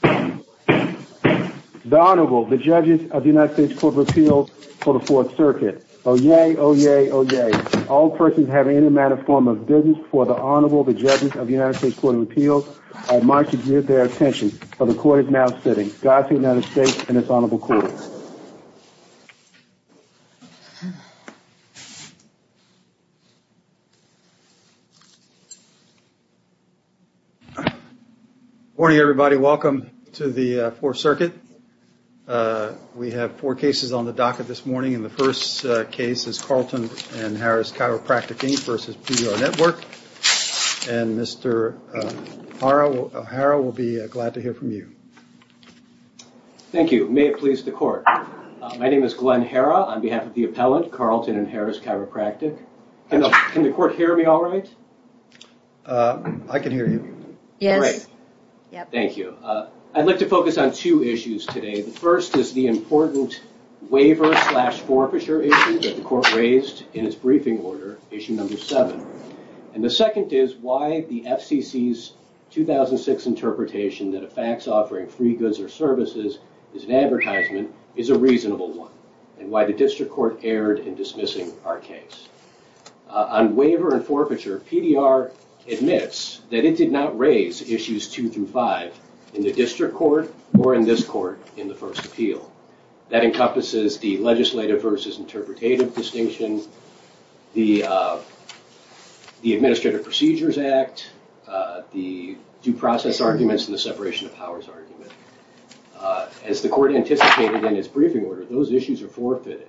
The Honorable, the Judges of the United States Court of Appeals for the Fourth Circuit. Oh yay, oh yay, oh yay. All persons having any amount of form of business for the Honorable, the Judges of the United States Court of Appeals, are admonished to give their attention, for the Court is now sitting. Godspeed, United States, and this Honorable Court. Good morning, everybody. Welcome to the Fourth Circuit. We have four cases on the docket this morning. The first case is Carleton & Harris Chiropractic, Inc. v. PDR Network. And Mr. Harrell will be glad to hear from you. Thank you. May it please the Court. My name is Glenn Herra on behalf of the appellant, Carleton & Harris Chiropractic. Can the Court hear me all right? I can hear you. Great. Thank you. I'd like to focus on two issues today. The first is the important waiver slash forfeiture issue that the Court raised in its briefing order, issue number seven. And the second is why the FCC's 2006 interpretation that a fax offering free goods or services as an advertisement is a reasonable one, and why the District Court erred in dismissing our case. On waiver and forfeiture, PDR admits that it did not raise issues two through five in the District Court or in this Court in the first appeal. That encompasses the legislative versus interpretative distinction, the Administrative Procedures Act, the due process arguments, and the separation of powers argument. As the Court anticipated in its briefing order, those issues are forfeited.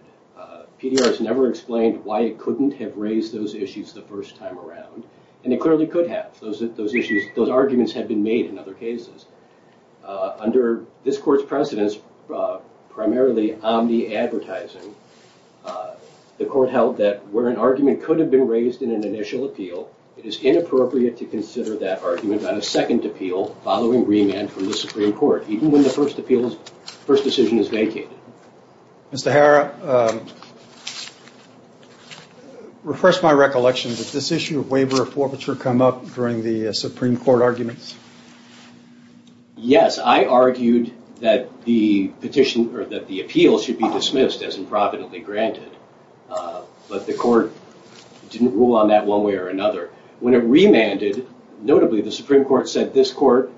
PDR has never explained why it couldn't have raised those issues the first time around, and it clearly could have. Those arguments have been made in other cases. Under this Court's precedence, primarily omni-advertising, the Court held that where an argument could have been raised in an initial appeal, it is inappropriate to consider that argument on a second appeal following remand from the Supreme Court, even when the first decision is vacated. Mr. Harra, refresh my recollection. Did this issue of waiver or forfeiture come up during the Supreme Court arguments? Yes, I argued that the appeal should be dismissed as improvidently granted, but the Court didn't rule on that one way or another. When it remanded, notably the Supreme Court said this Court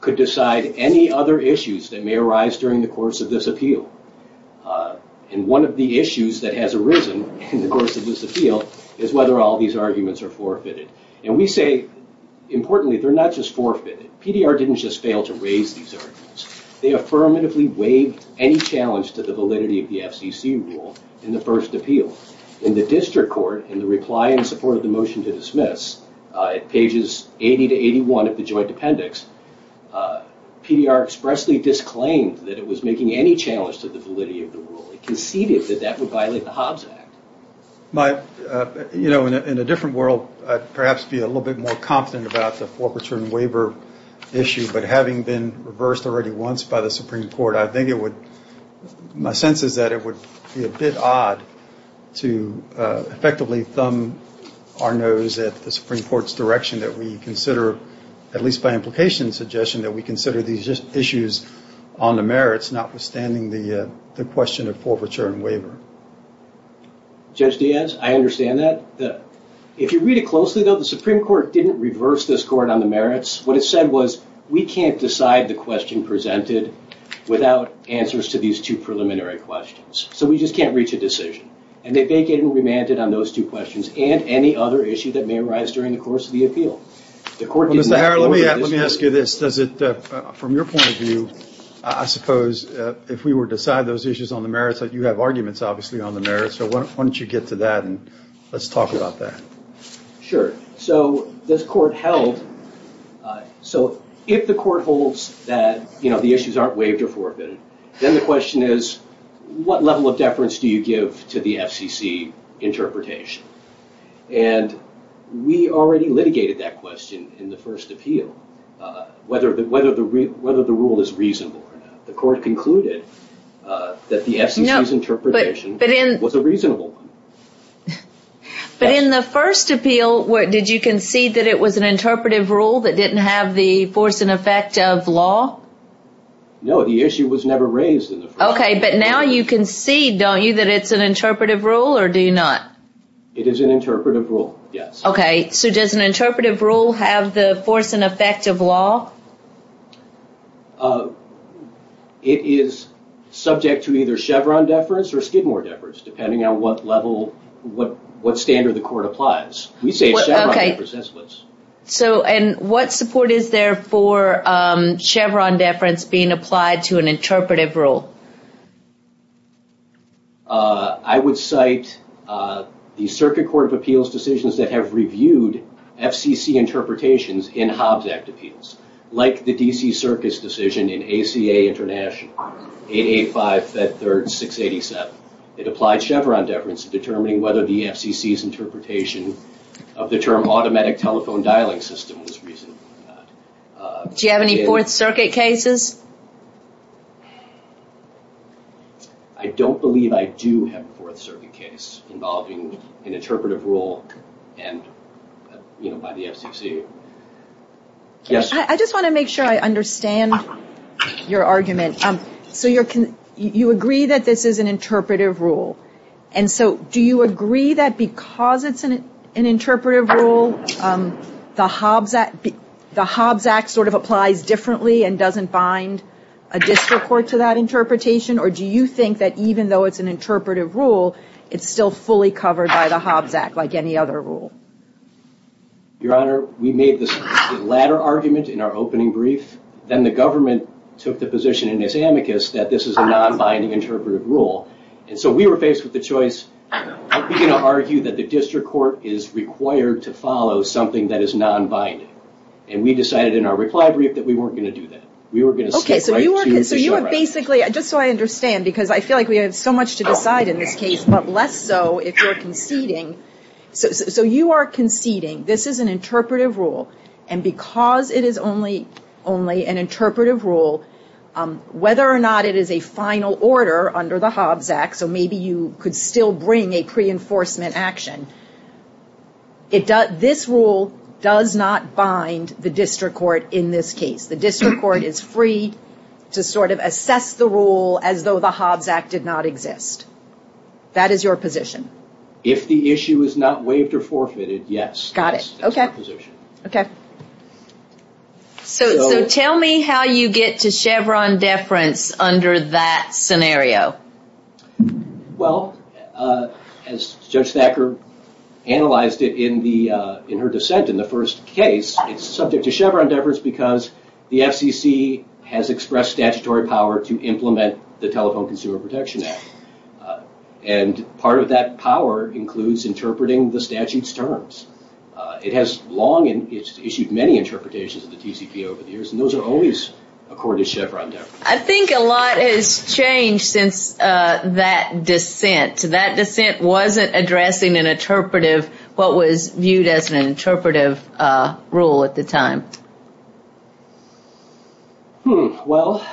could decide any other issues that may arise during the course of this appeal. One of the issues that has arisen in the course of this appeal is whether all these arguments are forfeited. We say, importantly, they're not just forfeited. PDR didn't just fail to raise these arguments. They affirmatively weighed any challenge to the validity of the FCC rule in the first appeal. In the District Court, in the reply in support of the motion to dismiss, at pages 80 to 81 of the joint appendix, PDR expressly disclaimed that it was making any challenge to the validity of the rule. It conceded that that would violate the Hobbs Act. In a different world, I'd perhaps be a little bit more confident about the forfeiture and waiver issue, but having been reversed already once by the Supreme Court, my sense is that it would be a bit odd to effectively thumb our nose at the Supreme Court's direction that we consider, at least by implication and suggestion, that we consider these issues on the merits, notwithstanding the question of forfeiture and waiver. Judge Diaz, I understand that. If you read it closely, though, the Supreme Court didn't reverse this court on the merits. What it said was, we can't decide the question presented without answers to these two preliminary questions. So we just can't reach a decision. And they vacated and remanded on those two questions and any other issue that may arise during the course of the appeal. Mr. Harrell, let me ask you this. From your point of view, I suppose, if we were to decide those issues on the merits, you have arguments, obviously, on the merits. So why don't you get to that and let's talk about that. Sure. So this court held. So if the court holds that the issues aren't waived or forfeited, then the question is, what level of deference do you give to the FCC interpretation? And we already litigated that question in the first appeal, whether the rule is reasonable or not. The court concluded that the FCC's interpretation was a reasonable one. But in the first appeal, did you concede that it was an interpretive rule that didn't have the force and effect of law? No, the issue was never raised in the first appeal. OK, but now you concede, don't you, that it's an interpretive rule or do you not? It is an interpretive rule, yes. OK, so does an interpretive rule have the force and effect of law? It is subject to either Chevron deference or Skidmore deference, depending on what level, what standard the court applies. We say Chevron deference. And what support is there for Chevron deference being applied to an interpretive rule? I would cite the Circuit Court of Appeals decisions that have reviewed FCC interpretations in Hobbs Act appeals, like the D.C. Circus decision in ACA International, 885, Fed 3rd, 687. It applied Chevron deference to determining whether the FCC's interpretation of the term automatic telephone dialing system was reasonable or not. Do you have any Fourth Circuit cases? I don't believe I do have a Fourth Circuit case involving an interpretive rule by the FCC. I just want to make sure I understand your argument. So you agree that this is an interpretive rule. And so do you agree that because it's an interpretive rule, the Hobbs Act sort of applies differently and doesn't bind a district court to that interpretation? Or do you think that even though it's an interpretive rule, it's still fully covered by the Hobbs Act like any other rule? Your Honor, we made the latter argument in our opening brief. Then the government took the position in its amicus that this is a non-binding interpretive rule. And so we were faced with the choice. Are we going to argue that the district court is required to follow something that is non-binding? And we decided in our reply brief that we weren't going to do that. We were going to stick right to the show right. Just so I understand, because I feel like we have so much to decide in this case, but less so if you're conceding. So you are conceding this is an interpretive rule. And because it is only an interpretive rule, whether or not it is a final order under the Hobbs Act, so maybe you could still bring a pre-enforcement action, this rule does not bind the district court in this case. The district court is free to sort of assess the rule as though the Hobbs Act did not exist. That is your position. If the issue is not waived or forfeited, yes. Got it. Okay. So tell me how you get to Chevron deference under that scenario. Well, as Judge Thacker analyzed it in her dissent in the first case, it is subject to Chevron deference because the FCC has expressed statutory power to implement the Telephone Consumer Protection Act. And part of that power includes interpreting the statute's terms. It has long issued many interpretations of the TCPA over the years, and those are always according to Chevron deference. I think a lot has changed since that dissent. That dissent wasn't addressing an interpretive, what was viewed as an interpretive rule at the time. Well,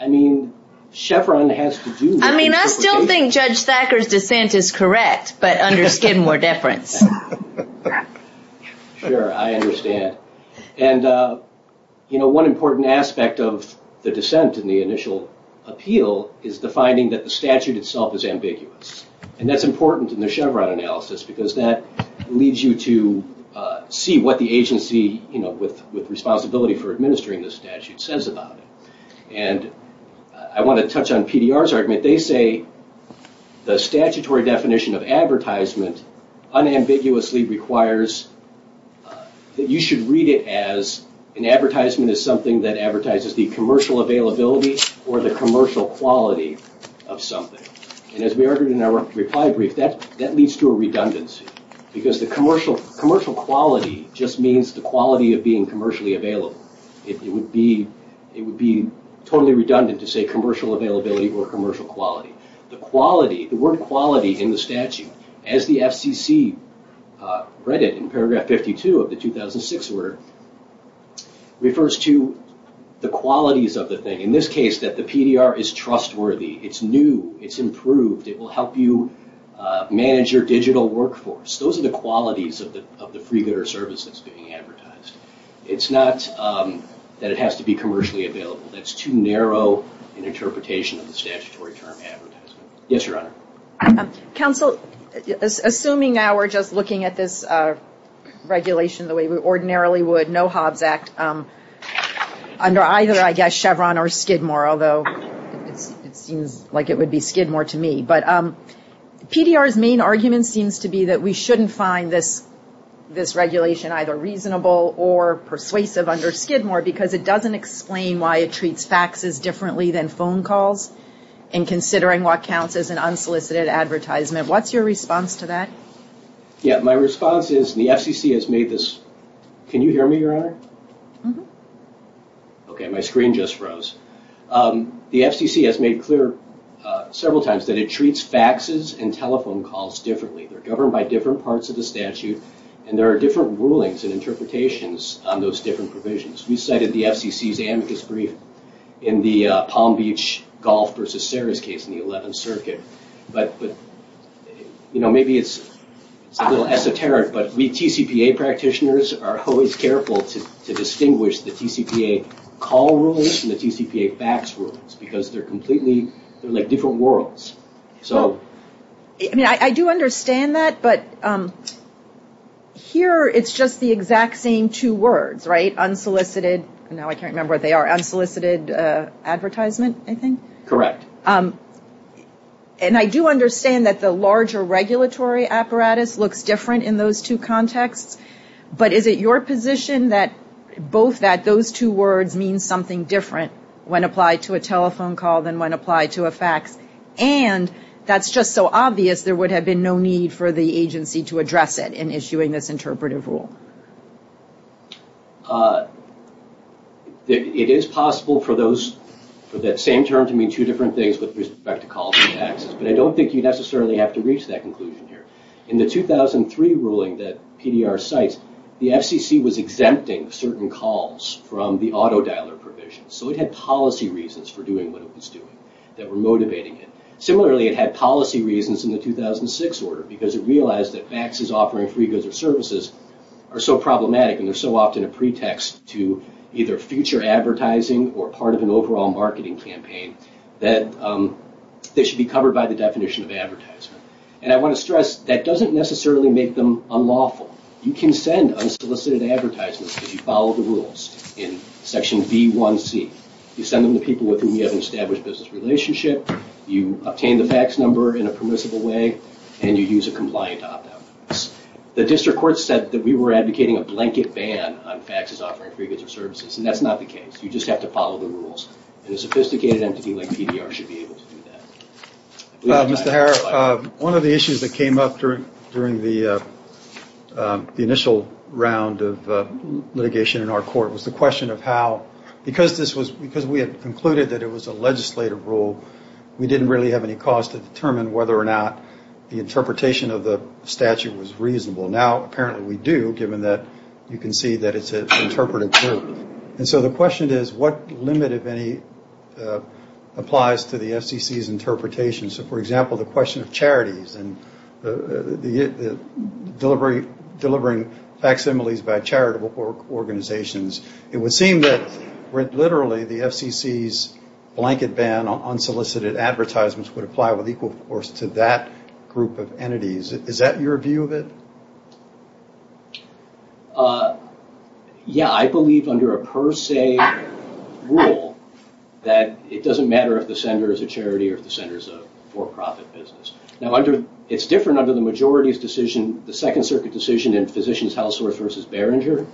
I mean, Chevron has to do that. I mean, I still think Judge Thacker's dissent is correct, but under Skidmore deference. Sure, I understand. And, you know, one important aspect of the dissent in the initial appeal is the finding that the statute itself is ambiguous. And that's important in the Chevron analysis because that leads you to see what the agency, you know, with responsibility for administering the statute says about it. And I want to touch on PDR's argument. They say the statutory definition of advertisement unambiguously requires that you should read it as an advertisement is something that advertises the commercial availability or the commercial quality of something. And as we argued in our reply brief, that leads to a redundancy. Because the commercial quality just means the quality of being commercially available. It would be totally redundant to say commercial availability or commercial quality. The word quality in the statute, as the FCC read it in paragraph 52 of the 2006 order, refers to the qualities of the thing. In this case, that the PDR is trustworthy. It's new. It's improved. It will help you manage your digital workforce. Those are the qualities of the freegooder service that's being advertised. It's not that it has to be commercially available. That's too narrow an interpretation of the statutory term advertisement. Yes, Your Honor. Counsel, assuming now we're just looking at this regulation the way we ordinarily would, no Hobbs Act, under either, I guess, Chevron or Skidmore, although it seems like it would be Skidmore to me. But PDR's main argument seems to be that we shouldn't find this regulation either reasonable or persuasive under Skidmore because it doesn't explain why it treats faxes differently than phone calls. And considering what counts as an unsolicited advertisement, what's your response to that? Yeah. My response is the FCC has made this. Can you hear me, Your Honor? Okay. My screen just froze. The FCC has made clear several times that it treats faxes and telephone calls differently. They're governed by different parts of the statute, and there are different rulings and interpretations on those different provisions. We cited the FCC's amicus brief in the Palm Beach golf versus Sarah's case in the 11th Circuit. But maybe it's a little esoteric, but we TCPA practitioners are always careful to distinguish the TCPA call rules from the TCPA fax rules because they're completely, they're like different worlds. I mean, I do understand that, but here it's just the exact same two words, right? Unsolicited, now I can't remember what they are, unsolicited advertisement, I think? Correct. And I do understand that the larger regulatory apparatus looks different in those two contexts, but is it your position that both that those two words mean something different when applied to a telephone call than when applied to a fax, and that's just so obvious there would have been no need for the agency to address it in issuing this interpretive rule? It is possible for that same term to mean two different things with respect to calls and faxes, but I don't think you necessarily have to reach that conclusion here. In the 2003 ruling that PDR cites, the FCC was exempting certain calls from the auto dialer provision, so it had policy reasons for doing what it was doing that were motivating it. Similarly, it had policy reasons in the 2006 order because it realized that faxes offering free goods or services are so problematic and they're so often a pretext to either future advertising or part of an overall marketing campaign that they should be covered by the definition of advertisement. And I want to stress that doesn't necessarily make them unlawful. You can send unsolicited advertisements if you follow the rules in Section B1C. You send them to people with whom you have an established business relationship, you obtain the fax number in a permissible way, and you use a compliant opt-out. The district court said that we were advocating a blanket ban on faxes offering free goods or services, and that's not the case. You just have to follow the rules, and a sophisticated entity like PDR should be able to do that. Mr. Harris, one of the issues that came up during the initial round of litigation in our court was the question of how, because we had concluded that it was a legislative rule, we didn't really have any cause to determine whether or not the interpretation of the statute was reasonable. Now apparently we do, given that you can see that it's an interpretive group. And so the question is, what limit, if any, applies to the FCC's interpretation? So, for example, the question of charities and delivering facsimiles by charitable organizations, it would seem that literally the FCC's blanket ban on unsolicited advertisements would apply with equal force to that group of entities. Is that your view of it? Yeah, I believe under a per se rule that it doesn't matter if the sender is a charity or if the sender is a for-profit business. Now it's different under the majority's decision, the Second Circuit decision in Physicians' House versus Barringer.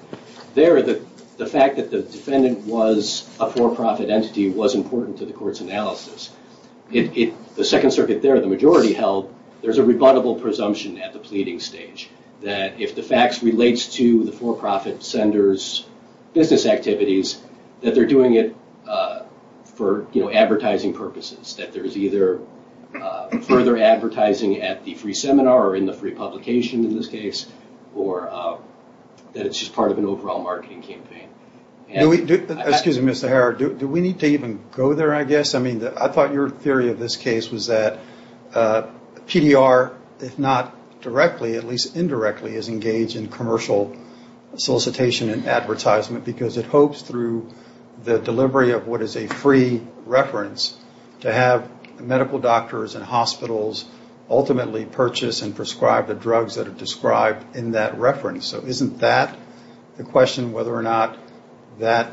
There, the fact that the defendant was a for-profit entity was important to the court's analysis. The Second Circuit there, the majority held, there's a rebuttable presumption at the pleading stage, that if the facts relates to the for-profit sender's business activities, that they're doing it for advertising purposes, that there's either further advertising at the free seminar or in the free publication in this case, or that it's just part of an overall marketing campaign. Excuse me, Mr. Harrod, do we need to even go there, I guess? I mean, I thought your theory of this case was that PDR, if not directly, at least indirectly, is engaged in commercial solicitation and advertisement because it hopes through the delivery of what is a free reference to have medical doctors and hospitals ultimately purchase and prescribe the drugs that are described in that reference. So isn't that the question, whether or not that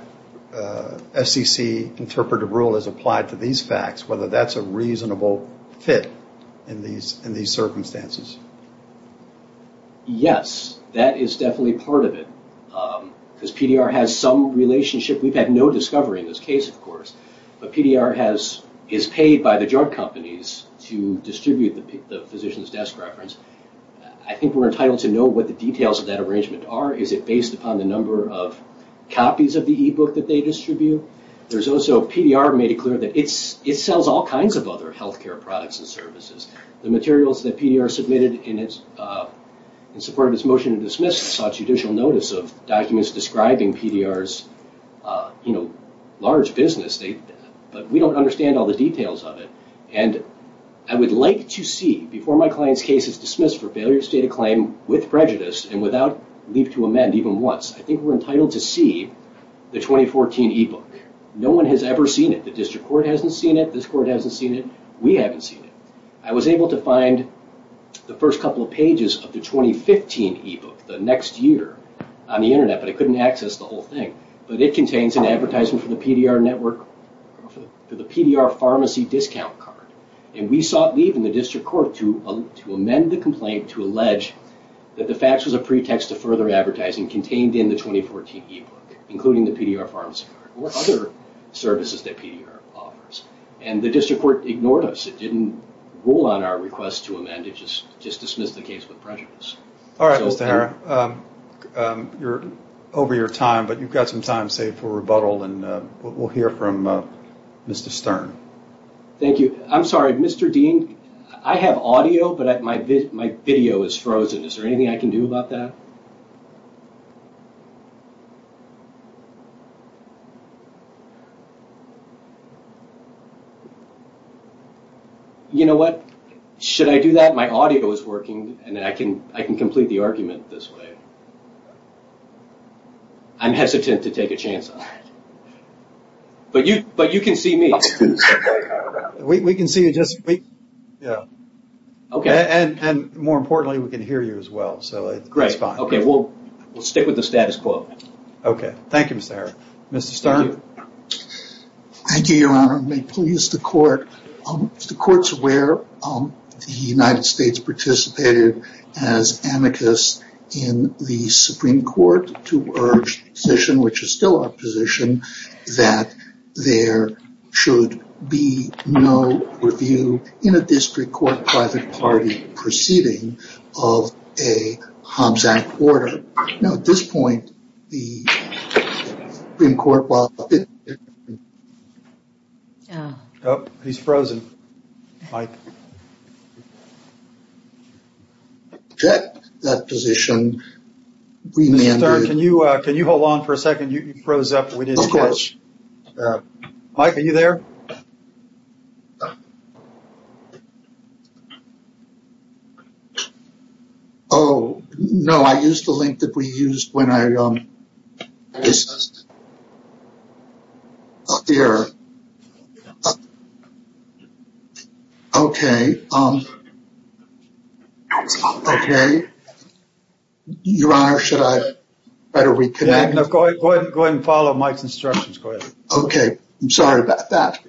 SEC interpretive rule is applied to these facts, whether that's a reasonable fit in these circumstances? Yes, that is definitely part of it, because PDR has some relationship. We've had no discovery in this case, of course, but PDR is paid by the drug companies to distribute the Physician's Desk reference. I think we're entitled to know what the details of that arrangement are. Is it based upon the number of copies of the e-book that they distribute? There's also PDR made it clear that it sells all kinds of other health care products and services. The materials that PDR submitted in support of its motion to dismiss saw judicial notice of documents describing PDR's large business, but we don't understand all the details of it. I would like to see, before my client's case is dismissed for failure to state a claim with prejudice and without leave to amend even once, I think we're entitled to see the 2014 e-book. No one has ever seen it. The district court hasn't seen it, this court hasn't seen it, we haven't seen it. I was able to find the first couple of pages of the 2015 e-book the next year on the internet, but I couldn't access the whole thing, but it contains an advertisement for the PDR pharmacy discount card. We sought leave in the district court to amend the complaint to allege that the fax was a pretext to further advertising contained in the 2014 e-book, including the PDR pharmacy card or other services that PDR offers. The district court ignored us. It didn't rule on our request to amend, it just dismissed the case with prejudice. All right, Mr. Herr, you're over your time, but you've got some time saved for rebuttal, and we'll hear from Mr. Stern. Thank you. I'm sorry, Mr. Dean, I have audio, but my video is frozen. Is there anything I can do about that? You know what? Should I do that? My audio is working, and I can complete the argument this way. I'm hesitant to take a chance on it, but you can see me. We can see you, and more importantly, we can hear you as well, so it's fine. We'll stick with the status quo. Okay, thank you, Mr. Herr. Mr. Stern? Thank you, Your Honor. May it please the Court. If the Court's aware, the United States participated as amicus in the Supreme Court to urge the position, which is still our position, that there should be no review in a district court private party proceeding of a Hobbs Act order. No, at this point, the Supreme Court will… Oh, he's frozen. Mike? That position… Mr. Stern, can you hold on for a second? You froze up. We didn't catch… Of course. Mike, are you there? Oh, no, I used the link that we used when I… Up here. Okay. Okay. Your Honor, should I better reconnect? Okay, I'm sorry about that.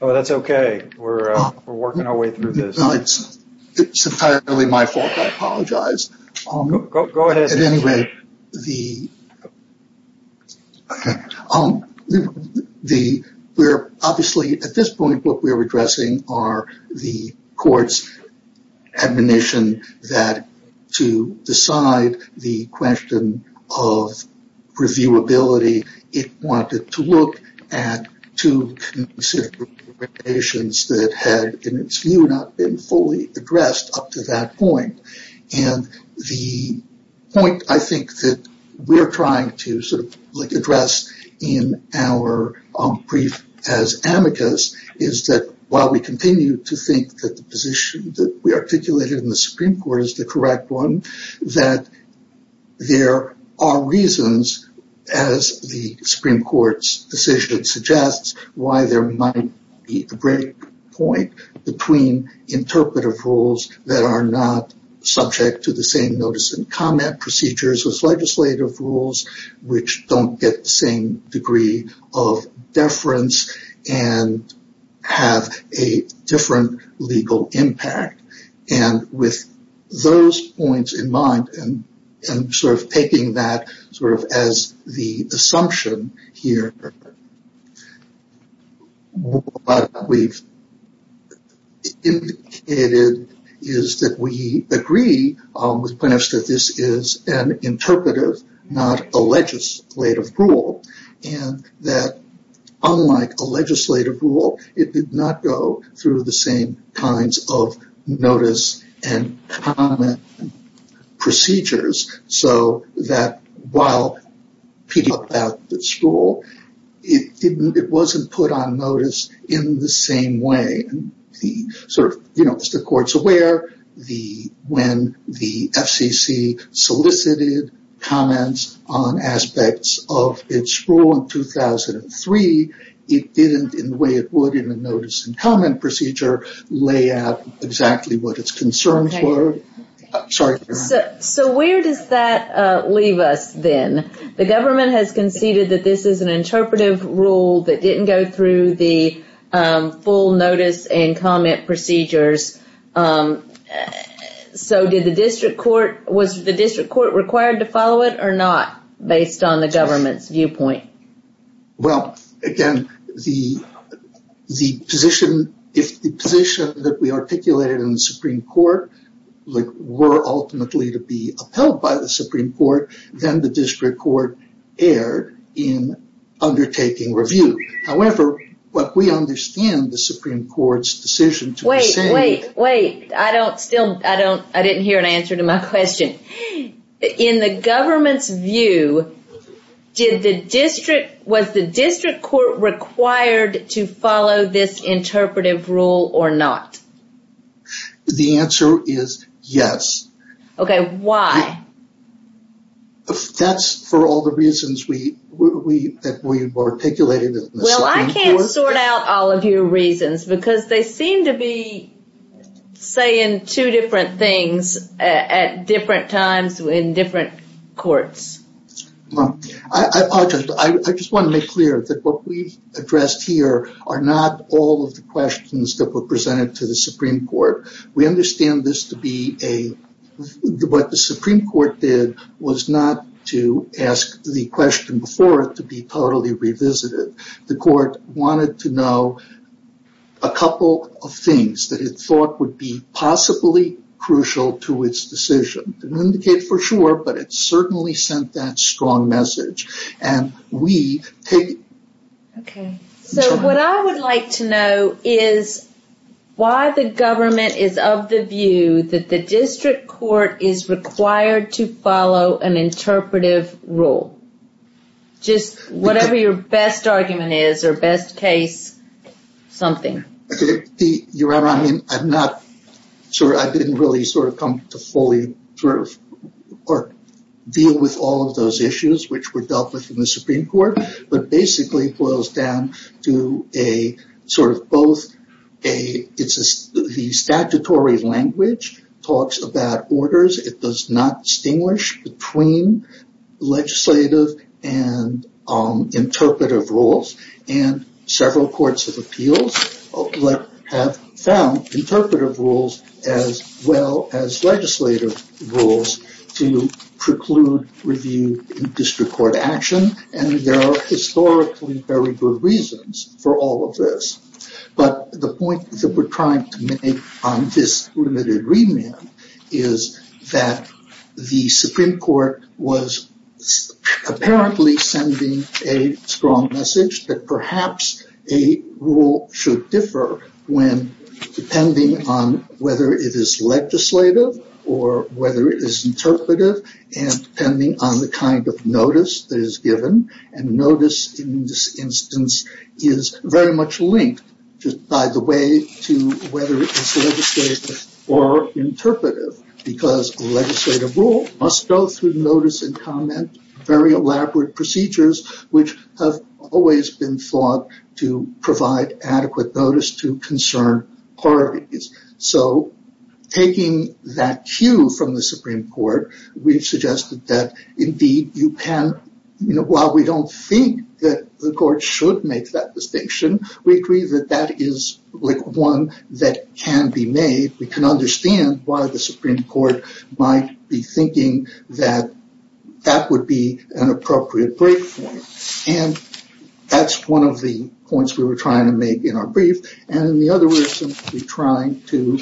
Oh, that's okay. We're working our way through this. It's entirely my fault. I apologize. Go ahead. At this point, what we're addressing are the Court's admonition that to decide the question of reviewability, it wanted to look at two considerations that had, in its view, not been fully addressed up to that point. And the point, I think, that we're trying to address in our brief as amicus is that while we continue to think that the position that we articulated in the Supreme Court is the correct one, that there are reasons, as the Supreme Court's decision suggests, why there might be a break point between interpretive rules that are not subject to the same notice and comment procedures as legislative rules, which don't get the same degree of deference and have a different legal impact. And with those points in mind and sort of taking that sort of as the assumption here, what we've indicated is that we agree with plaintiffs that this is an interpretive, not a legislative rule, and that unlike a legislative rule, it did not go through the same kinds of notice and comment procedures, so that while picking up that rule, it wasn't put on notice in the same way. As the Court's aware, when the FCC solicited comments on aspects of its rule in 2003, it didn't, in the way it would in a notice and comment procedure, lay out exactly what its concerns were. So where does that leave us then? The government has conceded that this is an interpretive rule that didn't go through the full notice and comment procedures. So was the district court required to follow it or not, based on the government's viewpoint? Well, again, if the position that we articulated in the Supreme Court were ultimately to be upheld by the Supreme Court, then the district court erred in undertaking review. However, what we understand the Supreme Court's decision to ascend... Wait, wait, wait. I don't still... I didn't hear an answer to my question. In the government's view, was the district court required to follow this interpretive rule or not? The answer is yes. Okay, why? That's for all the reasons that we articulated in the Supreme Court. Well, I can't sort out all of your reasons, because they seem to be saying two different things at different times in different courts. Well, I just want to make clear that what we've addressed here are not all of the questions that were presented to the Supreme Court. We understand this to be a... What the Supreme Court did was not to ask the question before it to be totally revisited. The court wanted to know a couple of things that it thought would be possibly crucial to its decision. It didn't indicate for sure, but it certainly sent that strong message. Okay, so what I would like to know is why the government is of the view that the district court is required to follow an interpretive rule? Just whatever your best argument is or best case something. Your Honor, I didn't really sort of come to fully deal with all of those issues which were dealt with in the Supreme Court, but basically it boils down to a sort of both a statutory language, talks about orders. It does not distinguish between legislative and interpretive rules. And several courts of appeals have found interpretive rules as well as legislative rules to preclude review in district court action. And there are historically very good reasons for all of this. But the point that we're trying to make on this limited remand is that the Supreme Court was apparently sending a strong message that perhaps a rule should differ when depending on whether it is legislative or whether it is interpretive and depending on the kind of notice that is given. And notice in this instance is very much linked just by the way to whether it is legislative or interpretive because a legislative rule must go through notice and comment, very elaborate procedures, which have always been thought to provide adequate notice to concern parties. So taking that cue from the Supreme Court, we've suggested that indeed you can, while we don't think that the court should make that distinction, we agree that that is one that can be made. We can understand why the Supreme Court might be thinking that that would be an appropriate platform. And that's one of the points we were trying to make in our brief. And in the other we're simply trying to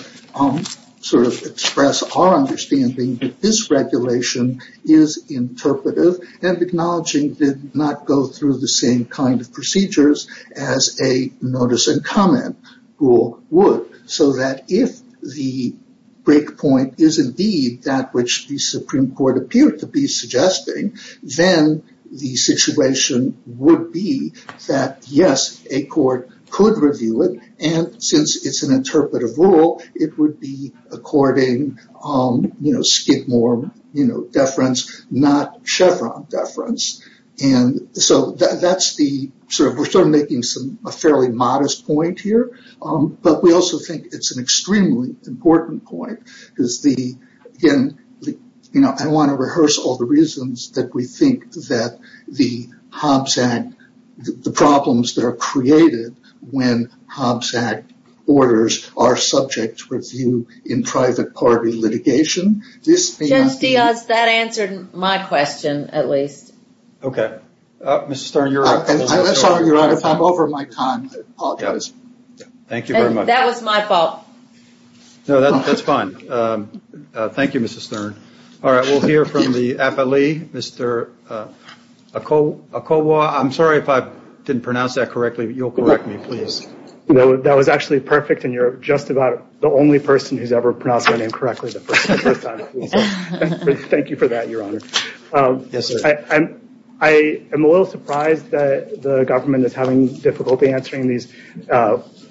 sort of express our understanding that this regulation is interpretive and acknowledging did not go through the same kind of procedures as a notice and comment rule would. So that if the breakpoint is indeed that which the Supreme Court appeared to be suggesting, then the situation would be that, yes, a court could review it. And since it's an interpretive rule, it would be according, you know, Skidmore, you know, deference not Chevron deference. And so that's the sort of we're sort of making some a fairly modest point here. But we also think it's an extremely important point. Again, you know, I want to rehearse all the reasons that we think that the Hobbs Act, the problems that are created when Hobbs Act orders are subject to review in private party litigation. That answered my question, at least. Okay. Mr. Stern, you're up. I'm sorry, Your Honor, if I'm over my time, I apologize. Thank you very much. That was my fault. No, that's fine. Thank you, Mr. Stern. All right. We'll hear from the affilee, Mr. Okowo. I'm sorry if I didn't pronounce that correctly, but you'll correct me, please. No, that was actually perfect. And you're just about the only person who's ever pronounced my name correctly the first time. Thank you for that, Your Honor. Yes, sir. I am a little surprised that the government is having difficulty answering these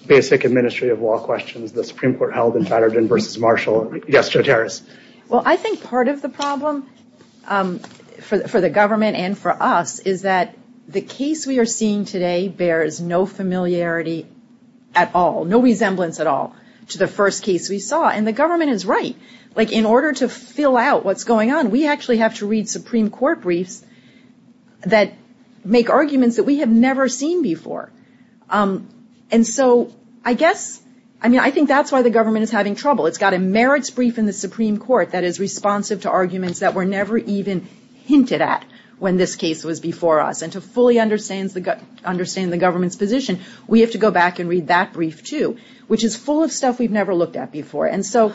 basic administrative law questions that the Supreme Court held in Patterson v. Marshall. Yes, Jotaris. Well, I think part of the problem for the government and for us is that the case we are seeing today bears no familiarity at all, no resemblance at all to the first case we saw. And the government is right. Like, in order to fill out what's going on, we actually have to read Supreme Court briefs that make arguments that we have never seen before. And so I guess, I mean, I think that's why the government is having trouble. It's got a merits brief in the Supreme Court that is responsive to arguments that were never even hinted at when this case was before us. And to fully understand the government's position, we have to go back and read that brief, too, which is full of stuff we've never looked at before. And so,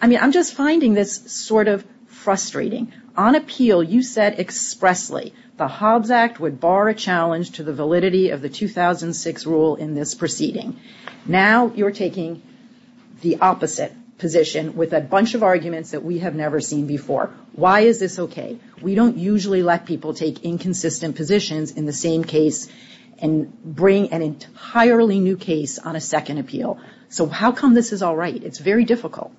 I mean, I'm just finding this sort of frustrating. On appeal, you said expressly the Hobbs Act would bar a challenge to the validity of the 2006 rule in this proceeding. Now you're taking the opposite position with a bunch of arguments that we have never seen before. Why is this okay? We don't usually let people take inconsistent positions in the same case and bring an entirely new case on a second appeal. So how come this is all right? It's very difficult.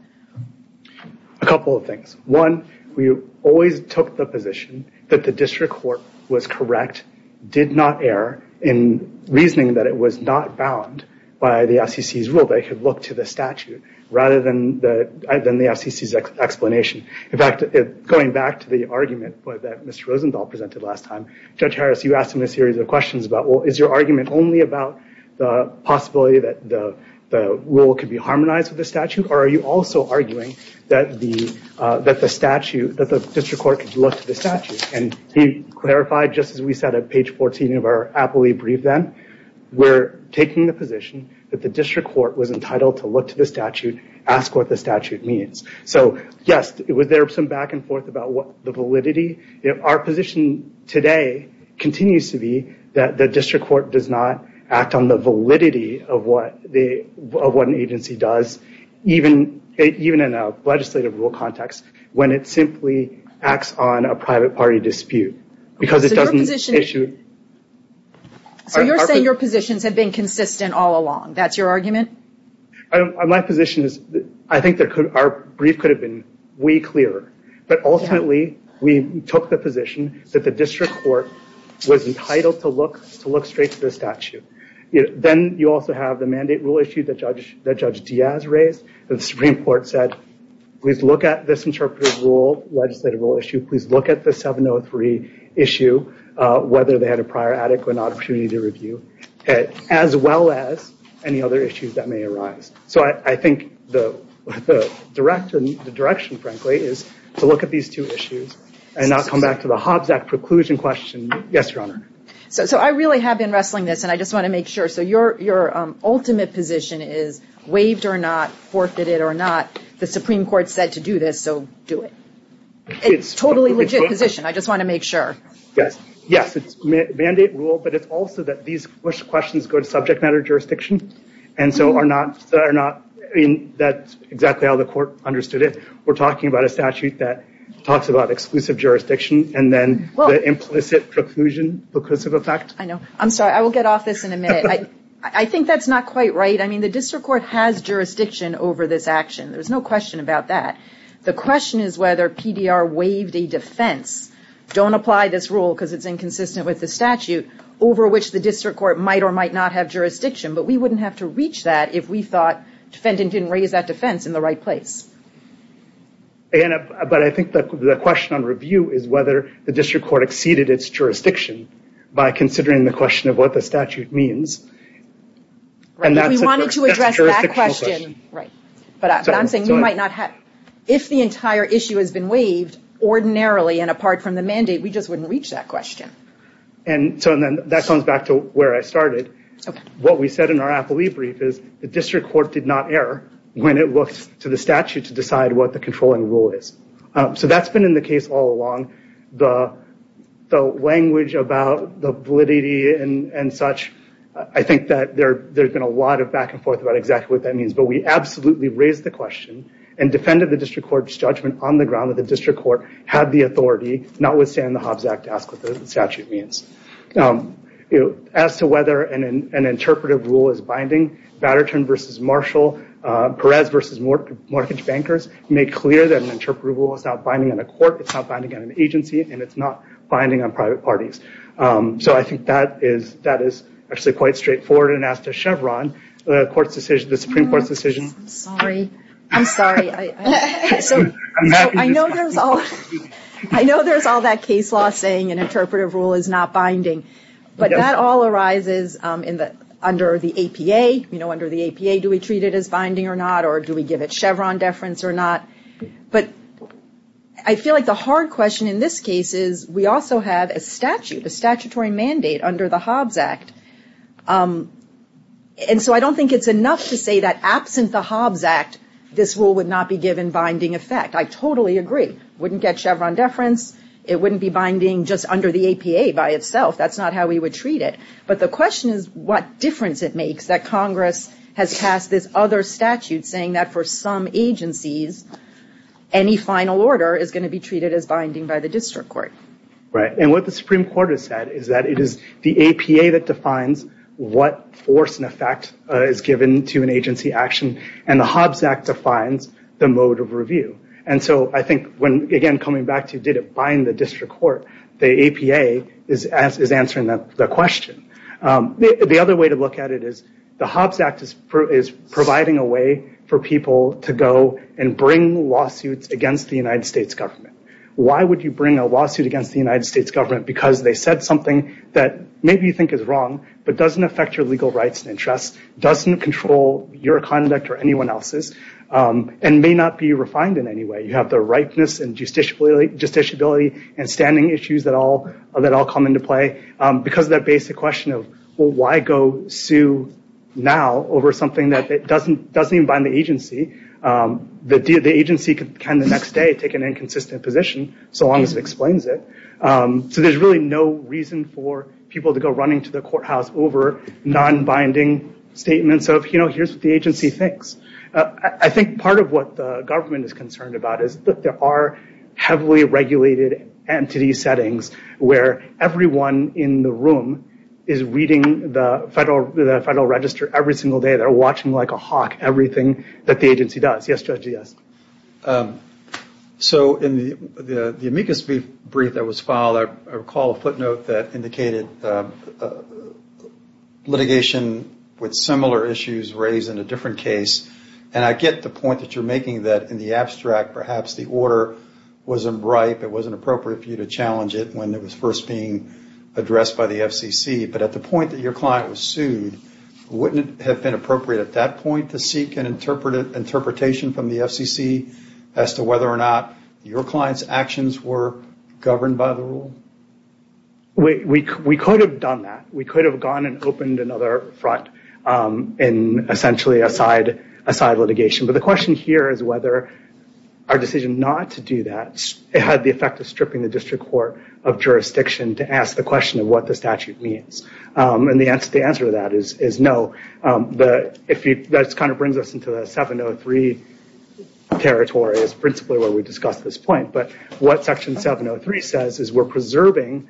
A couple of things. One, we always took the position that the district court was correct, did not err in reasoning that it was not bound by the FCC's rule, that it could look to the statute rather than the FCC's explanation. In fact, going back to the argument that Mr. Rosenthal presented last time, Judge Harris, you asked him a series of questions about, well, is your argument only about the possibility that the rule could be harmonized with the statute? Or are you also arguing that the district court could look to the statute? And he clarified, just as we said at page 14 of our appellee brief then, we're taking the position that the district court was entitled to look to the statute, ask what the statute means. So yes, there was some back and forth about the validity. Our position today continues to be that the district court does not act on the validity of what an agency does, even in a legislative rule context, when it simply acts on a private party dispute. Because it doesn't issue. So you're saying your positions have been consistent all along. That's your argument? My position is I think our brief could have been way clearer. But ultimately, we took the position that the district court was entitled to look straight to the statute. Then you also have the mandate rule issue that Judge Diaz raised. The Supreme Court said, please look at this interpretive rule, legislative rule issue. Please look at the 703 issue, whether they had a prior adequate opportunity to review it, as well as any other issues that may arise. So I think the direction, frankly, is to look at these two issues and not come back to the Hobbs Act preclusion question. Yes, Your Honor. So I really have been wrestling this, and I just want to make sure. So your ultimate position is waived or not, forfeited or not. The Supreme Court said to do this, so do it. It's a totally legit position. I just want to make sure. Yes, it's mandate rule, but it's also that these questions go to subject matter jurisdiction. And so that's exactly how the court understood it. We're talking about a statute that talks about exclusive jurisdiction and then the implicit preclusion because of effect. I know. I'm sorry. I will get off this in a minute. I think that's not quite right. I mean, the district court has jurisdiction over this action. There's no question about that. The question is whether PDR waived a defense. Don't apply this rule because it's inconsistent with the statute, over which the district court might or might not have jurisdiction. But we wouldn't have to reach that if we thought defendant didn't raise that defense in the right place. But I think the question on review is whether the district court exceeded its jurisdiction by considering the question of what the statute means. We wanted to address that question. But I'm saying we might not have. If the entire issue has been waived, ordinarily and apart from the mandate, we just wouldn't reach that question. And so that comes back to where I started. What we said in our appellee brief is the district court did not err when it looks to the statute to decide what the controlling rule is. So that's been in the case all along. The language about the validity and such, I think that there's been a lot of back and forth about exactly what that means. But we absolutely raised the question and defended the district court's judgment on the ground that the district court had the authority, notwithstanding the Hobbs Act, to ask what the statute means. As to whether an interpretive rule is binding, Batterton v. Marshall, Perez v. Mortgage Bankers, made clear that an interpretive rule is not binding on a court, it's not binding on an agency, and it's not binding on private parties. So I think that is actually quite straightforward. And as to Chevron, the Supreme Court's decision. I'm sorry. I know there's all that case law saying an interpretive rule is not binding. But that all arises under the APA. You know, under the APA, do we treat it as binding or not, or do we give it Chevron deference or not? But I feel like the hard question in this case is we also have a statute, a statutory mandate under the Hobbs Act. And so I don't think it's enough to say that absent the Hobbs Act, this rule would not be given binding effect. I totally agree. Wouldn't get Chevron deference. It wouldn't be binding just under the APA by itself. That's not how we would treat it. But the question is what difference it makes that Congress has passed this other statute saying that for some agencies, any final order is going to be treated as binding by the district court. Right. And what the Supreme Court has said is that it is the APA that defines what force and effect is given to an agency action. And the Hobbs Act defines the mode of review. And so I think when, again, coming back to did it bind the district court, the APA is answering the question. The other way to look at it is the Hobbs Act is providing a way for people to go and bring lawsuits against the United States government. Why would you bring a lawsuit against the United States government? Because they said something that maybe you think is wrong, but doesn't affect your legal rights and interests. Doesn't control your conduct or anyone else's. And may not be refined in any way. You have the rightness and justiciability and standing issues that all come into play. Because of that basic question of why go sue now over something that doesn't even bind the agency. The agency can the next day take an inconsistent position so long as it explains it. So there's really no reason for people to go running to the courthouse over non-binding statements of, you know, here's what the agency thinks. I think part of what the government is concerned about is that there are heavily regulated entity settings where everyone in the room is reading the Federal Register every single day. They're watching like a hawk everything that the agency does. Yes, Judge, yes. So in the amicus brief that was filed, I recall a footnote that indicated litigation with similar issues raised in a different case. And I get the point that you're making that in the abstract perhaps the order wasn't right. It wasn't appropriate for you to challenge it when it was first being addressed by the FCC. But at the point that your client was sued, wouldn't it have been appropriate at that point to seek an interpretation from the FCC as to whether or not your client's actions were governed by the rule? We could have done that. We could have gone and opened another front in essentially a side litigation. But the question here is whether our decision not to do that had the effect of stripping the district court of jurisdiction to ask the question of what the statute means. And the answer to that is no. That kind of brings us into the 703 territory as principally where we discussed this point. But what Section 703 says is we're preserving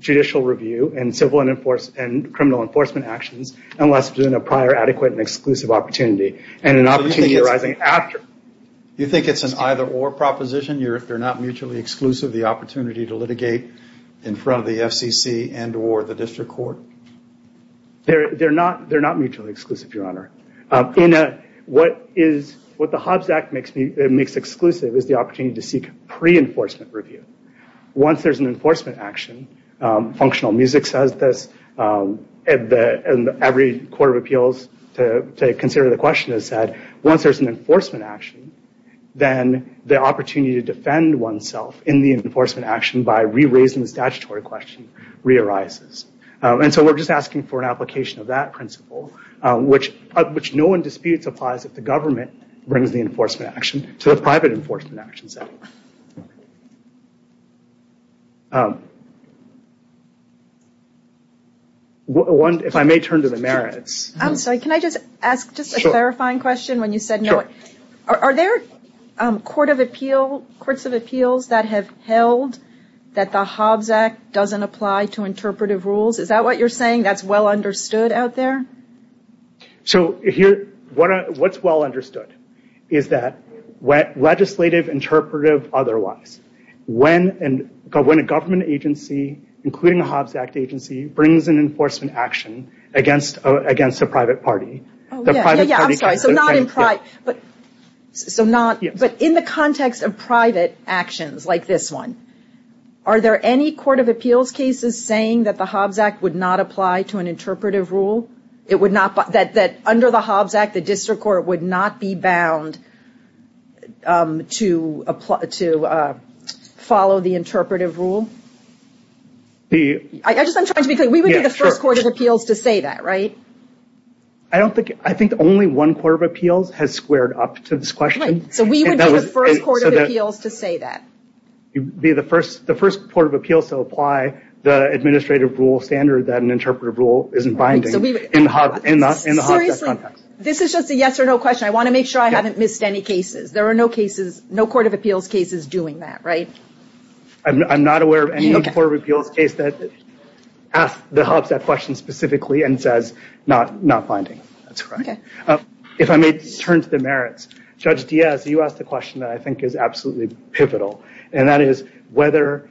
judicial review and civil and criminal enforcement actions unless it's in a prior adequate and exclusive opportunity and an opportunity arising after. You think it's an either-or proposition? If they're not mutually exclusive, the opportunity to litigate in front of the FCC and or the district court? They're not mutually exclusive, Your Honor. What the Hobbs Act makes exclusive is the opportunity to seek pre-enforcement review. Once there's an enforcement action, Functional Music says this and every Court of Appeals to consider the question has said once there's an enforcement action, then the opportunity to do that and defend oneself in the enforcement action by re-raising the statutory question re-arises. And so we're just asking for an application of that principle which no one disputes applies if the government brings the enforcement action to the private enforcement action setting. If I may turn to the merits. I'm sorry, can I just ask just a clarifying question when you said no. Are there Courts of Appeals that have held that the Hobbs Act doesn't apply to interpretive rules? Is that what you're saying, that's well understood out there? What's well understood is that legislative, interpretive, otherwise. When a government agency, including a Hobbs Act agency, brings an enforcement action against a private party, the private party can defend itself. But in the context of private actions like this one, are there any Court of Appeals cases saying that the Hobbs Act would not apply to an interpretive rule? That under the Hobbs Act, the District Court would not be bound to follow the interpretive rule? I'm just trying to be clear, we would be the first Court of Appeals to say that, right? I think only one Court of Appeals has squared up to this question. So we would be the first Court of Appeals to say that? We would be the first Court of Appeals to apply the administrative rule standard that an interpretive rule isn't binding in the Hobbs Act context. Seriously, this is just a yes or no question. I want to make sure I haven't missed any cases. There are no Court of Appeals cases doing that, right? I'm not aware of any Court of Appeals case that asks the Hobbs Act question specifically and says not binding. If I may turn to the merits. Judge Diaz, you asked a question that I think is absolutely pivotal. And that is whether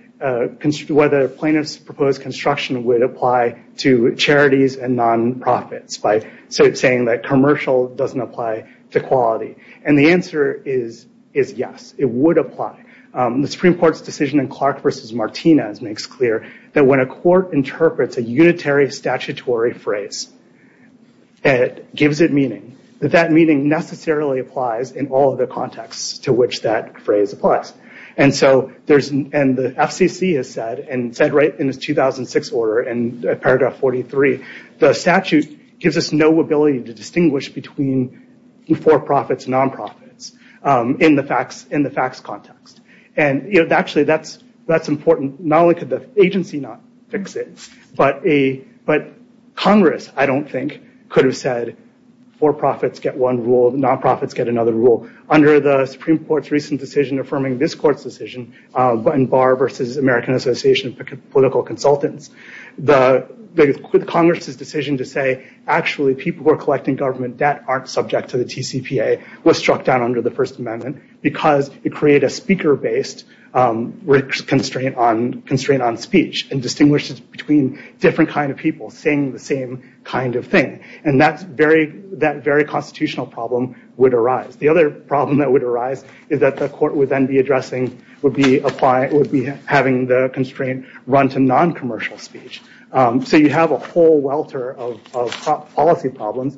plaintiff's proposed construction would apply to charities and non-profits by saying that commercial doesn't apply to quality. And the answer is yes, it would apply. The Supreme Court's decision in Clark v. Martinez makes clear that when a court interprets a unitary statutory phrase it gives it meaning. That that meaning necessarily applies in all of the contexts to which that phrase applies. And the FCC has said, and said right in its 2006 order in paragraph 43, the statute gives us no ability to distinguish between for-profits and non-profits in the facts context. And actually that's important. Not only could the agency not fix it, but Congress, I don't think, could have said for-profits get one rule, non-profits get another rule. Under the Supreme Court's recent decision affirming this Court's decision in Barr v. American Association of Political Consultants Congress's decision to say actually people who are collecting government debt aren't subject to the TCPA was struck down under the First Amendment because it created a speaker-based constraint on speech and distinguishes between different kinds of people saying the same kind of thing. And that very constitutional problem would arise. The other problem that would arise is that the Court would then be addressing would be having the constraint run to non-commercial speech. So you have a whole welter of policy problems.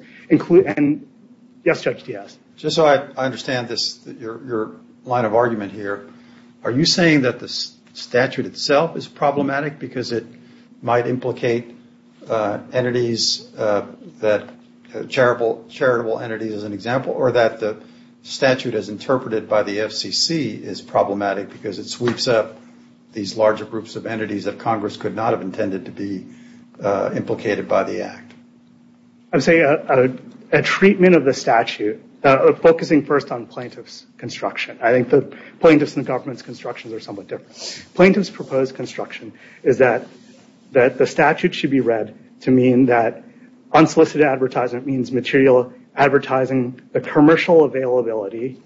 Yes, Judge Diaz. Just so I understand your line of argument here, are you saying that the statute itself is problematic because it might implicate charitable entities as an example or that the statute as interpreted by the FCC is problematic because it sweeps up these larger groups of entities that Congress could not have intended to be implicated by the Act? I'm saying a treatment of the statute focusing first on plaintiff's construction. I think the plaintiff's and the government's constructions are somewhat different. Plaintiff's proposed construction is that the statute should be read to mean that unsolicited advertisement means material advertising the commercial availability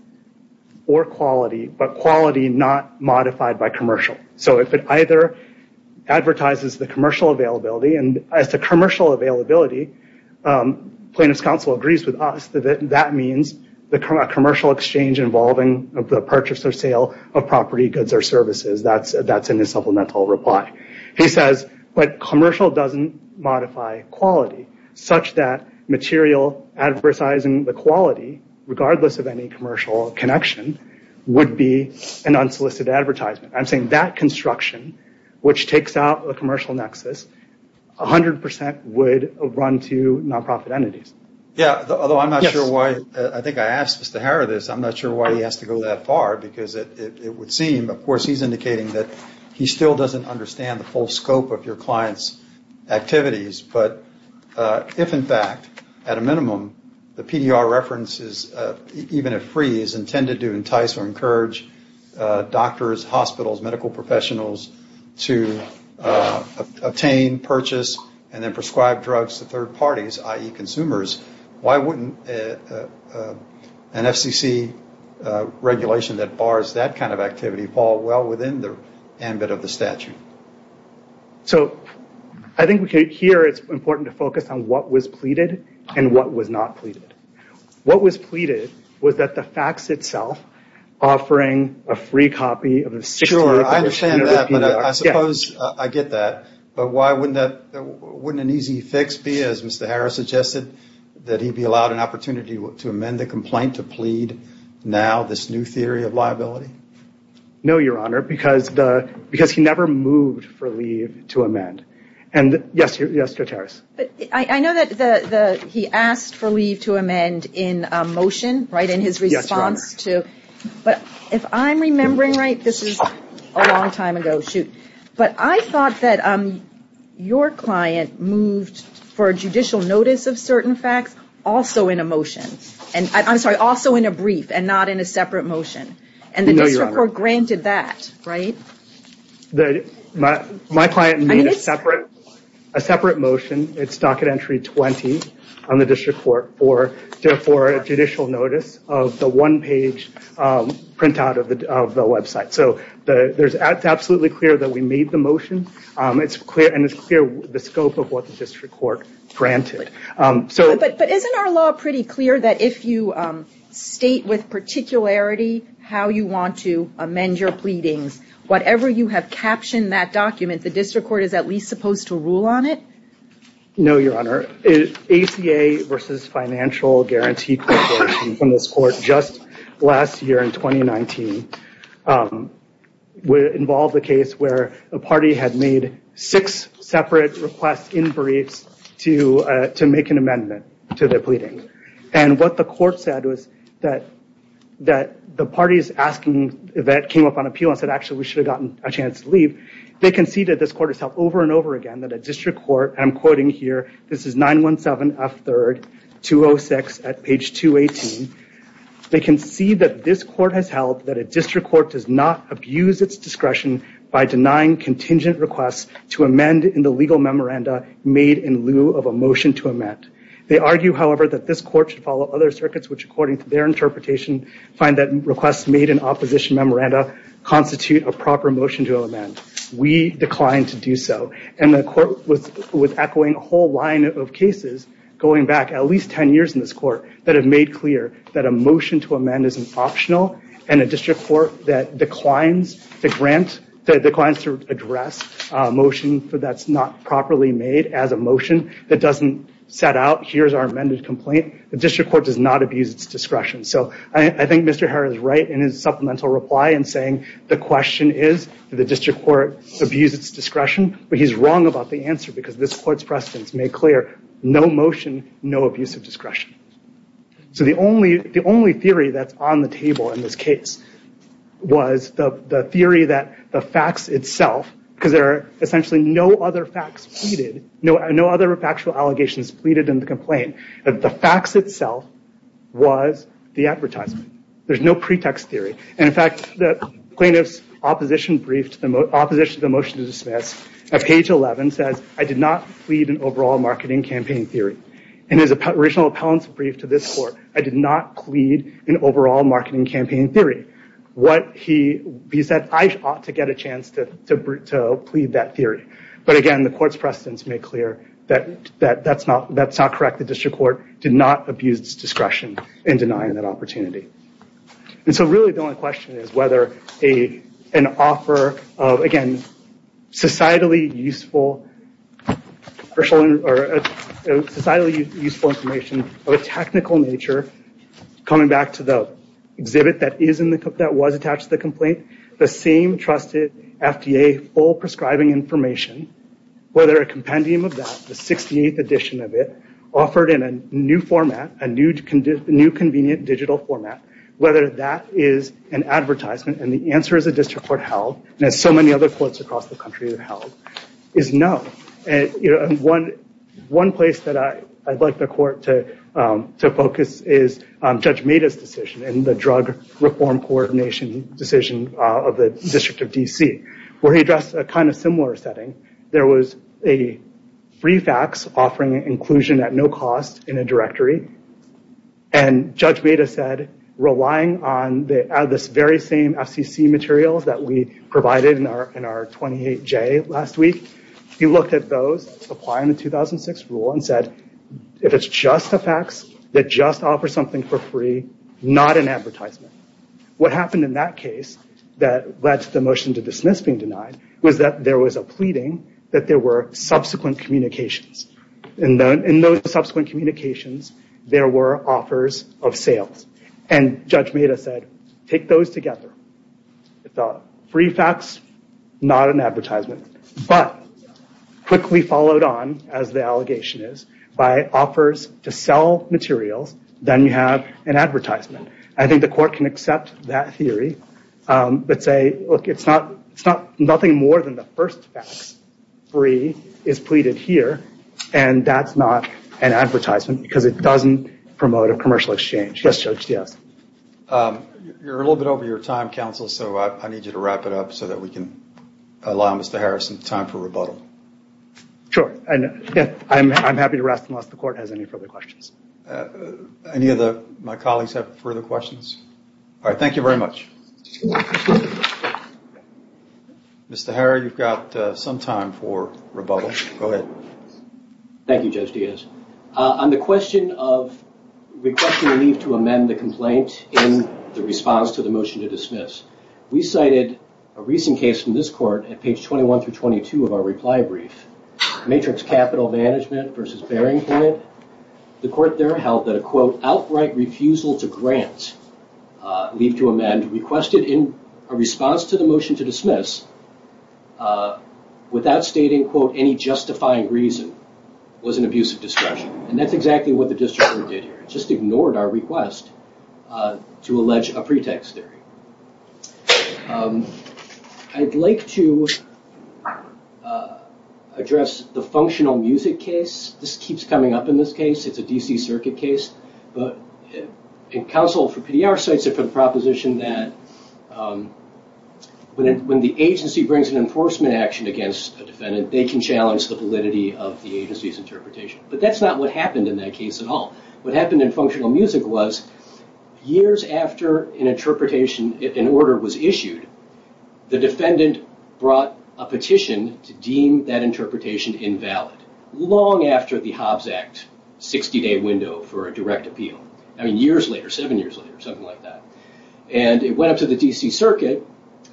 or quality but quality not modified by commercial. So if it either advertises the commercial availability and as to commercial availability plaintiff's counsel agrees with us that that means the commercial exchange involving the purchase or sale of property, goods or services. That's in the supplemental reply. He says, but commercial doesn't modify quality such that material advertising the quality regardless of any commercial connection would be an unsolicited advertisement. I'm saying that construction which takes out the commercial nexus 100% would run to non-profit entities. Although I'm not sure why, I think I asked Mr. Harrod this I'm not sure why he has to go that far because it would seem of course he's indicating that he still doesn't understand the full scope of your client's activities but if in fact, at a minimum the PDR references, even if free is intended to entice or encourage doctors hospitals, medical professionals to obtain, purchase and then prescribe drugs to third parties, i.e. consumers why wouldn't an FCC regulation that bars that kind of activity fall well within the ambit of the statute? So I think here it's important to focus on what was pleaded and what was not pleaded. What was pleaded was that the fax itself offering a free copy of a 60-page I get that, but why wouldn't an easy fix be as Mr. Harrod suggested, that he be allowed an opportunity to amend the complaint to plead now this new theory of liability? No, Your Honor, because he never moved for leave to amend. I know that he asked for leave to amend in a motion, right, in his response to but if I'm remembering right I think this is a long time ago but I thought that your client moved for judicial notice of certain facts also in a motion, I'm sorry, also in a brief and not in a separate motion and the district court granted that, right? My client made a separate motion its docket entry 20 on the district court for judicial notice of the one page printout of the website so it's absolutely clear that we made the motion and it's clear the scope of what the district court granted. But isn't our law pretty clear that if you state with particularity how you want to amend your pleadings whatever you have captioned that document the district court is at least supposed to rule on it? No, Your Honor, ACA versus financial guarantee from this court just last year in 2019 involved a case where a party had made six separate requests in briefs to make an amendment to their pleading and what the court said was that the parties asking that came up on appeal and said actually we should have gotten a chance to leave they conceded this court itself over and over again that a district court and I'm quoting here, this is 917 F3rd 206 at page 218, they concede that this court has held that a district court does not abuse its discretion by denying contingent requests to amend in the legal memoranda made in lieu of a motion to amend. They argue however that this court should follow other circuits which according to their interpretation find that requests made in opposition memoranda constitute a proper motion to amend. We declined to do so and the court was echoing a whole line of cases going back at least 10 years in this court that have made clear that a motion to amend is an optional and a district court that declines to grant, declines to address a motion that's not properly made as a motion that doesn't set out here's our amended complaint the district court does not abuse its discretion so I think Mr. Herr is right in his supplemental reply in saying the question is the district court abuses its discretion but he's wrong about the answer because this court's precedence made clear no motion, no abusive discretion. So the only theory that's on the table in this case was the theory that the facts itself because there are essentially no other facts pleaded no other factual allegations pleaded in the complaint the facts itself was the advertisement there's no pretext theory and in fact the plaintiff's opposition brief to the motion to dismiss at page 11 says I did not plead an overall marketing campaign theory and his original appellant's brief to this court I did not plead an overall marketing campaign theory he said I ought to get a chance to plead that theory but again the court's precedence made clear that that's not correct the district court did not abuse its discretion in denying that opportunity. And so really the only question is whether an offer of again societally useful information of a technical nature coming back to the exhibit that was attached to the complaint the same trusted FDA full prescribing information whether a compendium of that the 68th edition of it offered in a new convenient digital format whether that is an advertisement and the answer is the district court held and as so many other courts across the country have held is no and one place that I'd like the court to focus is Judge Meda's decision and the drug reform coordination decision of the district of DC where he addressed a kind of similar setting there was a free fax offering inclusion at no cost in a directory and Judge Meda said relying on this very same FCC materials that we provided in our 28J last week he looked at those applying the 2006 rule and said if it's just a fax that just offers something for free not an advertisement. What happened in that case that led to the motion to dismiss being denied was that there was a pleading that there were subsequent communications there were offers of sales and Judge Meda said take those together. I thought free fax not an advertisement but quickly followed on as the allegation is by offers to sell materials then you have an advertisement. I think the court can accept that theory but say look it's not nothing more than the first fax free is pleaded here and that's not an advertisement because it doesn't promote a commercial exchange. Yes Judge, yes. You're a little bit over your time counsel so I need you to wrap it up so that we can allow Mr. Harris some time for rebuttal. Sure, I'm happy to rest unless the court has any further questions. Any of my colleagues have further questions? Thank you very much. Mr. Harris you've got some time for rebuttal. Go ahead. Thank you Judge Diaz. On the question of requesting a leave to amend the complaint in the response to the motion to dismiss. We cited a recent case from this court at page 21 through 22 of our reply brief. Matrix Capital Management versus Bearing Point. The court there held that a quote outright refusal to grant leave to amend requested in a response to the motion to dismiss without stating quote any justifying reason was an abuse of discretion. And that's exactly what the district did here. Just ignored our request to allege a pretext theory. I'd like to address the functional music case. This keeps coming up in this case. It's a DC circuit case. Council for PDR cites it for the proposition that when the agency brings an enforcement action against a defendant they can challenge the validity of the agency's interpretation. But that's not what happened in that case at all. What happened in functional music was years after an interpretation, an order was issued the defendant brought a petition to deem that interpretation invalid. Long after the Hobbs Act 60 day window for a direct appeal. I mean years later, seven years later, something like that. And it went up to the DC circuit.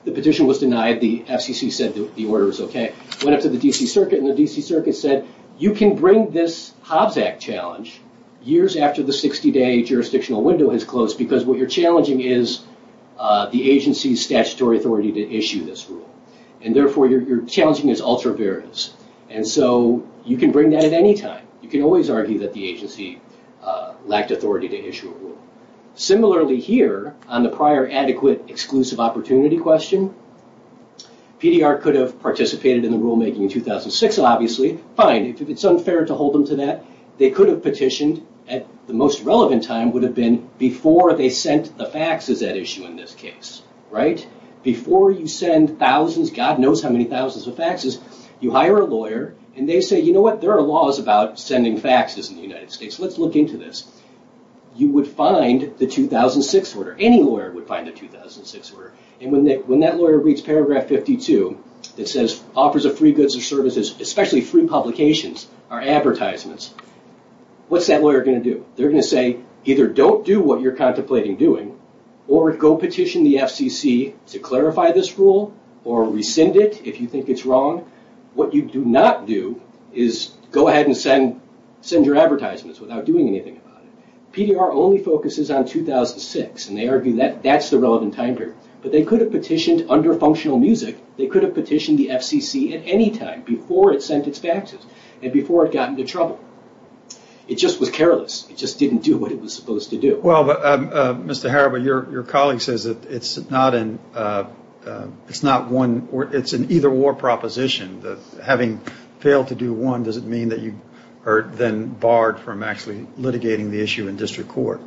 The petition was denied. The FCC said the order was okay. Went up to the DC circuit and the DC circuit said you can bring this Hobbs Act challenge years after the 60 day jurisdictional window has closed because what you're challenging is the agency's statutory authority to issue this rule. And therefore you're challenging its ultra-variance. And so you can bring that at any time. You can always argue that the agency lacked authority to issue a rule. Similarly here on the prior adequate exclusive opportunity question PDR could have participated in the rulemaking in 2006 obviously. Fine. It's unfair to hold them to that. They could have petitioned at the most relevant time would have been before they sent the faxes at issue in this case. Right? Before you send thousands, God knows how many thousands of faxes you hire a lawyer and they say, you know what? There are laws about sending faxes in the United States. Let's look into this. You would find the 2006 order. Any lawyer would find the 2006 order. And when that lawyer reads paragraph 52 that says offers of free goods or services, especially free publications are advertisements. What's that lawyer going to do? They're going to say either don't do what you're contemplating doing or go petition the FCC to clarify this rule or rescind it if you think it's wrong. What you do not do is go ahead and send your advertisements without doing anything about it. PDR only focuses on 2006 and they argue that that's the relevant time period. But they could have petitioned under functional music. They could have petitioned the FCC at any time before it sent its faxes and before it got into trouble. It just was careless. It just didn't do what it was Your colleague says that it's not it's not one, it's an either or proposition. Having failed to do one, does it mean that you are then barred from actually litigating the issue in district court?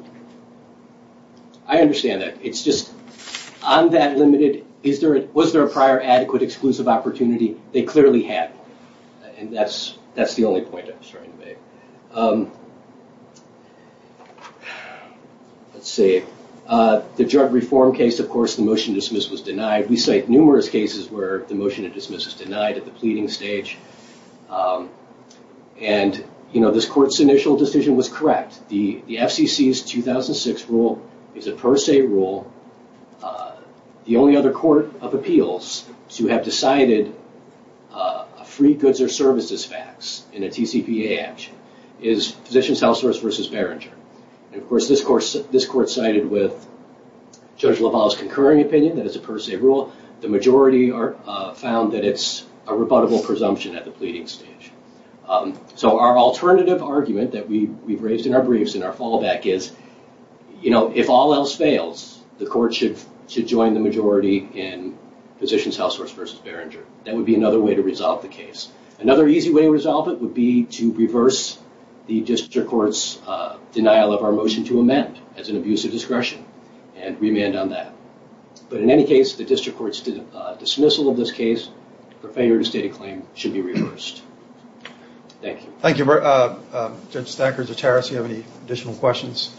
I understand that. It's just on that limited was there a prior adequate exclusive opportunity? I'm trying to make. Let's see. The drug reform case, of course, the motion to dismiss was denied. We cite numerous cases where the motion to dismiss was denied at the pleading stage. This court's initial decision was correct. The FCC's 2006 rule is a per se rule. The only other court of appeals to have decided a free goods or services fax in a TCPA action is Physicians Househorse v. Behringer. This court cited with Judge LaValle's concurring opinion that it's a per se rule. The majority found that it's a rebuttable presumption at the pleading stage. Our alternative argument that we've raised in our briefs and our fallback is if all else fails, the court should join the majority in Physicians Househorse v. Behringer. That would be another way to resolve the case. Another easy way to resolve it would be to reverse the district court's denial of our motion to amend as an abuse of discretion and remand on that. But in any case, the district court's dismissal of this case for failure to state a claim should be reversed. Thank you. Thank you. Judge Thacker, Judge Harris, do you have any additional questions?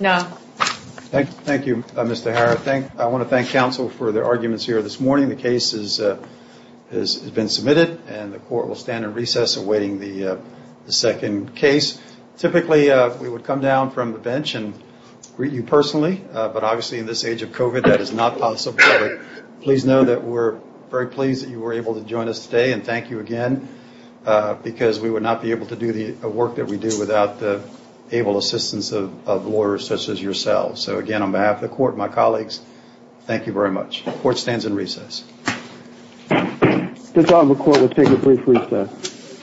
No. Thank you, Mr. Harris. I want to thank counsel for their arguments here this morning. The case has been submitted and the court will stand in recess awaiting the second case. Typically we would come down from the bench and greet you personally, but obviously in this age of COVID that is not possible. Please know that we're very pleased that you were able to join us today and thank you again because we would not be able to do the work that we do without the able assistance of lawyers such as yourselves. So again, on behalf of the court and my colleagues, thank you very much. The court stands in recess. The court will take a brief recess.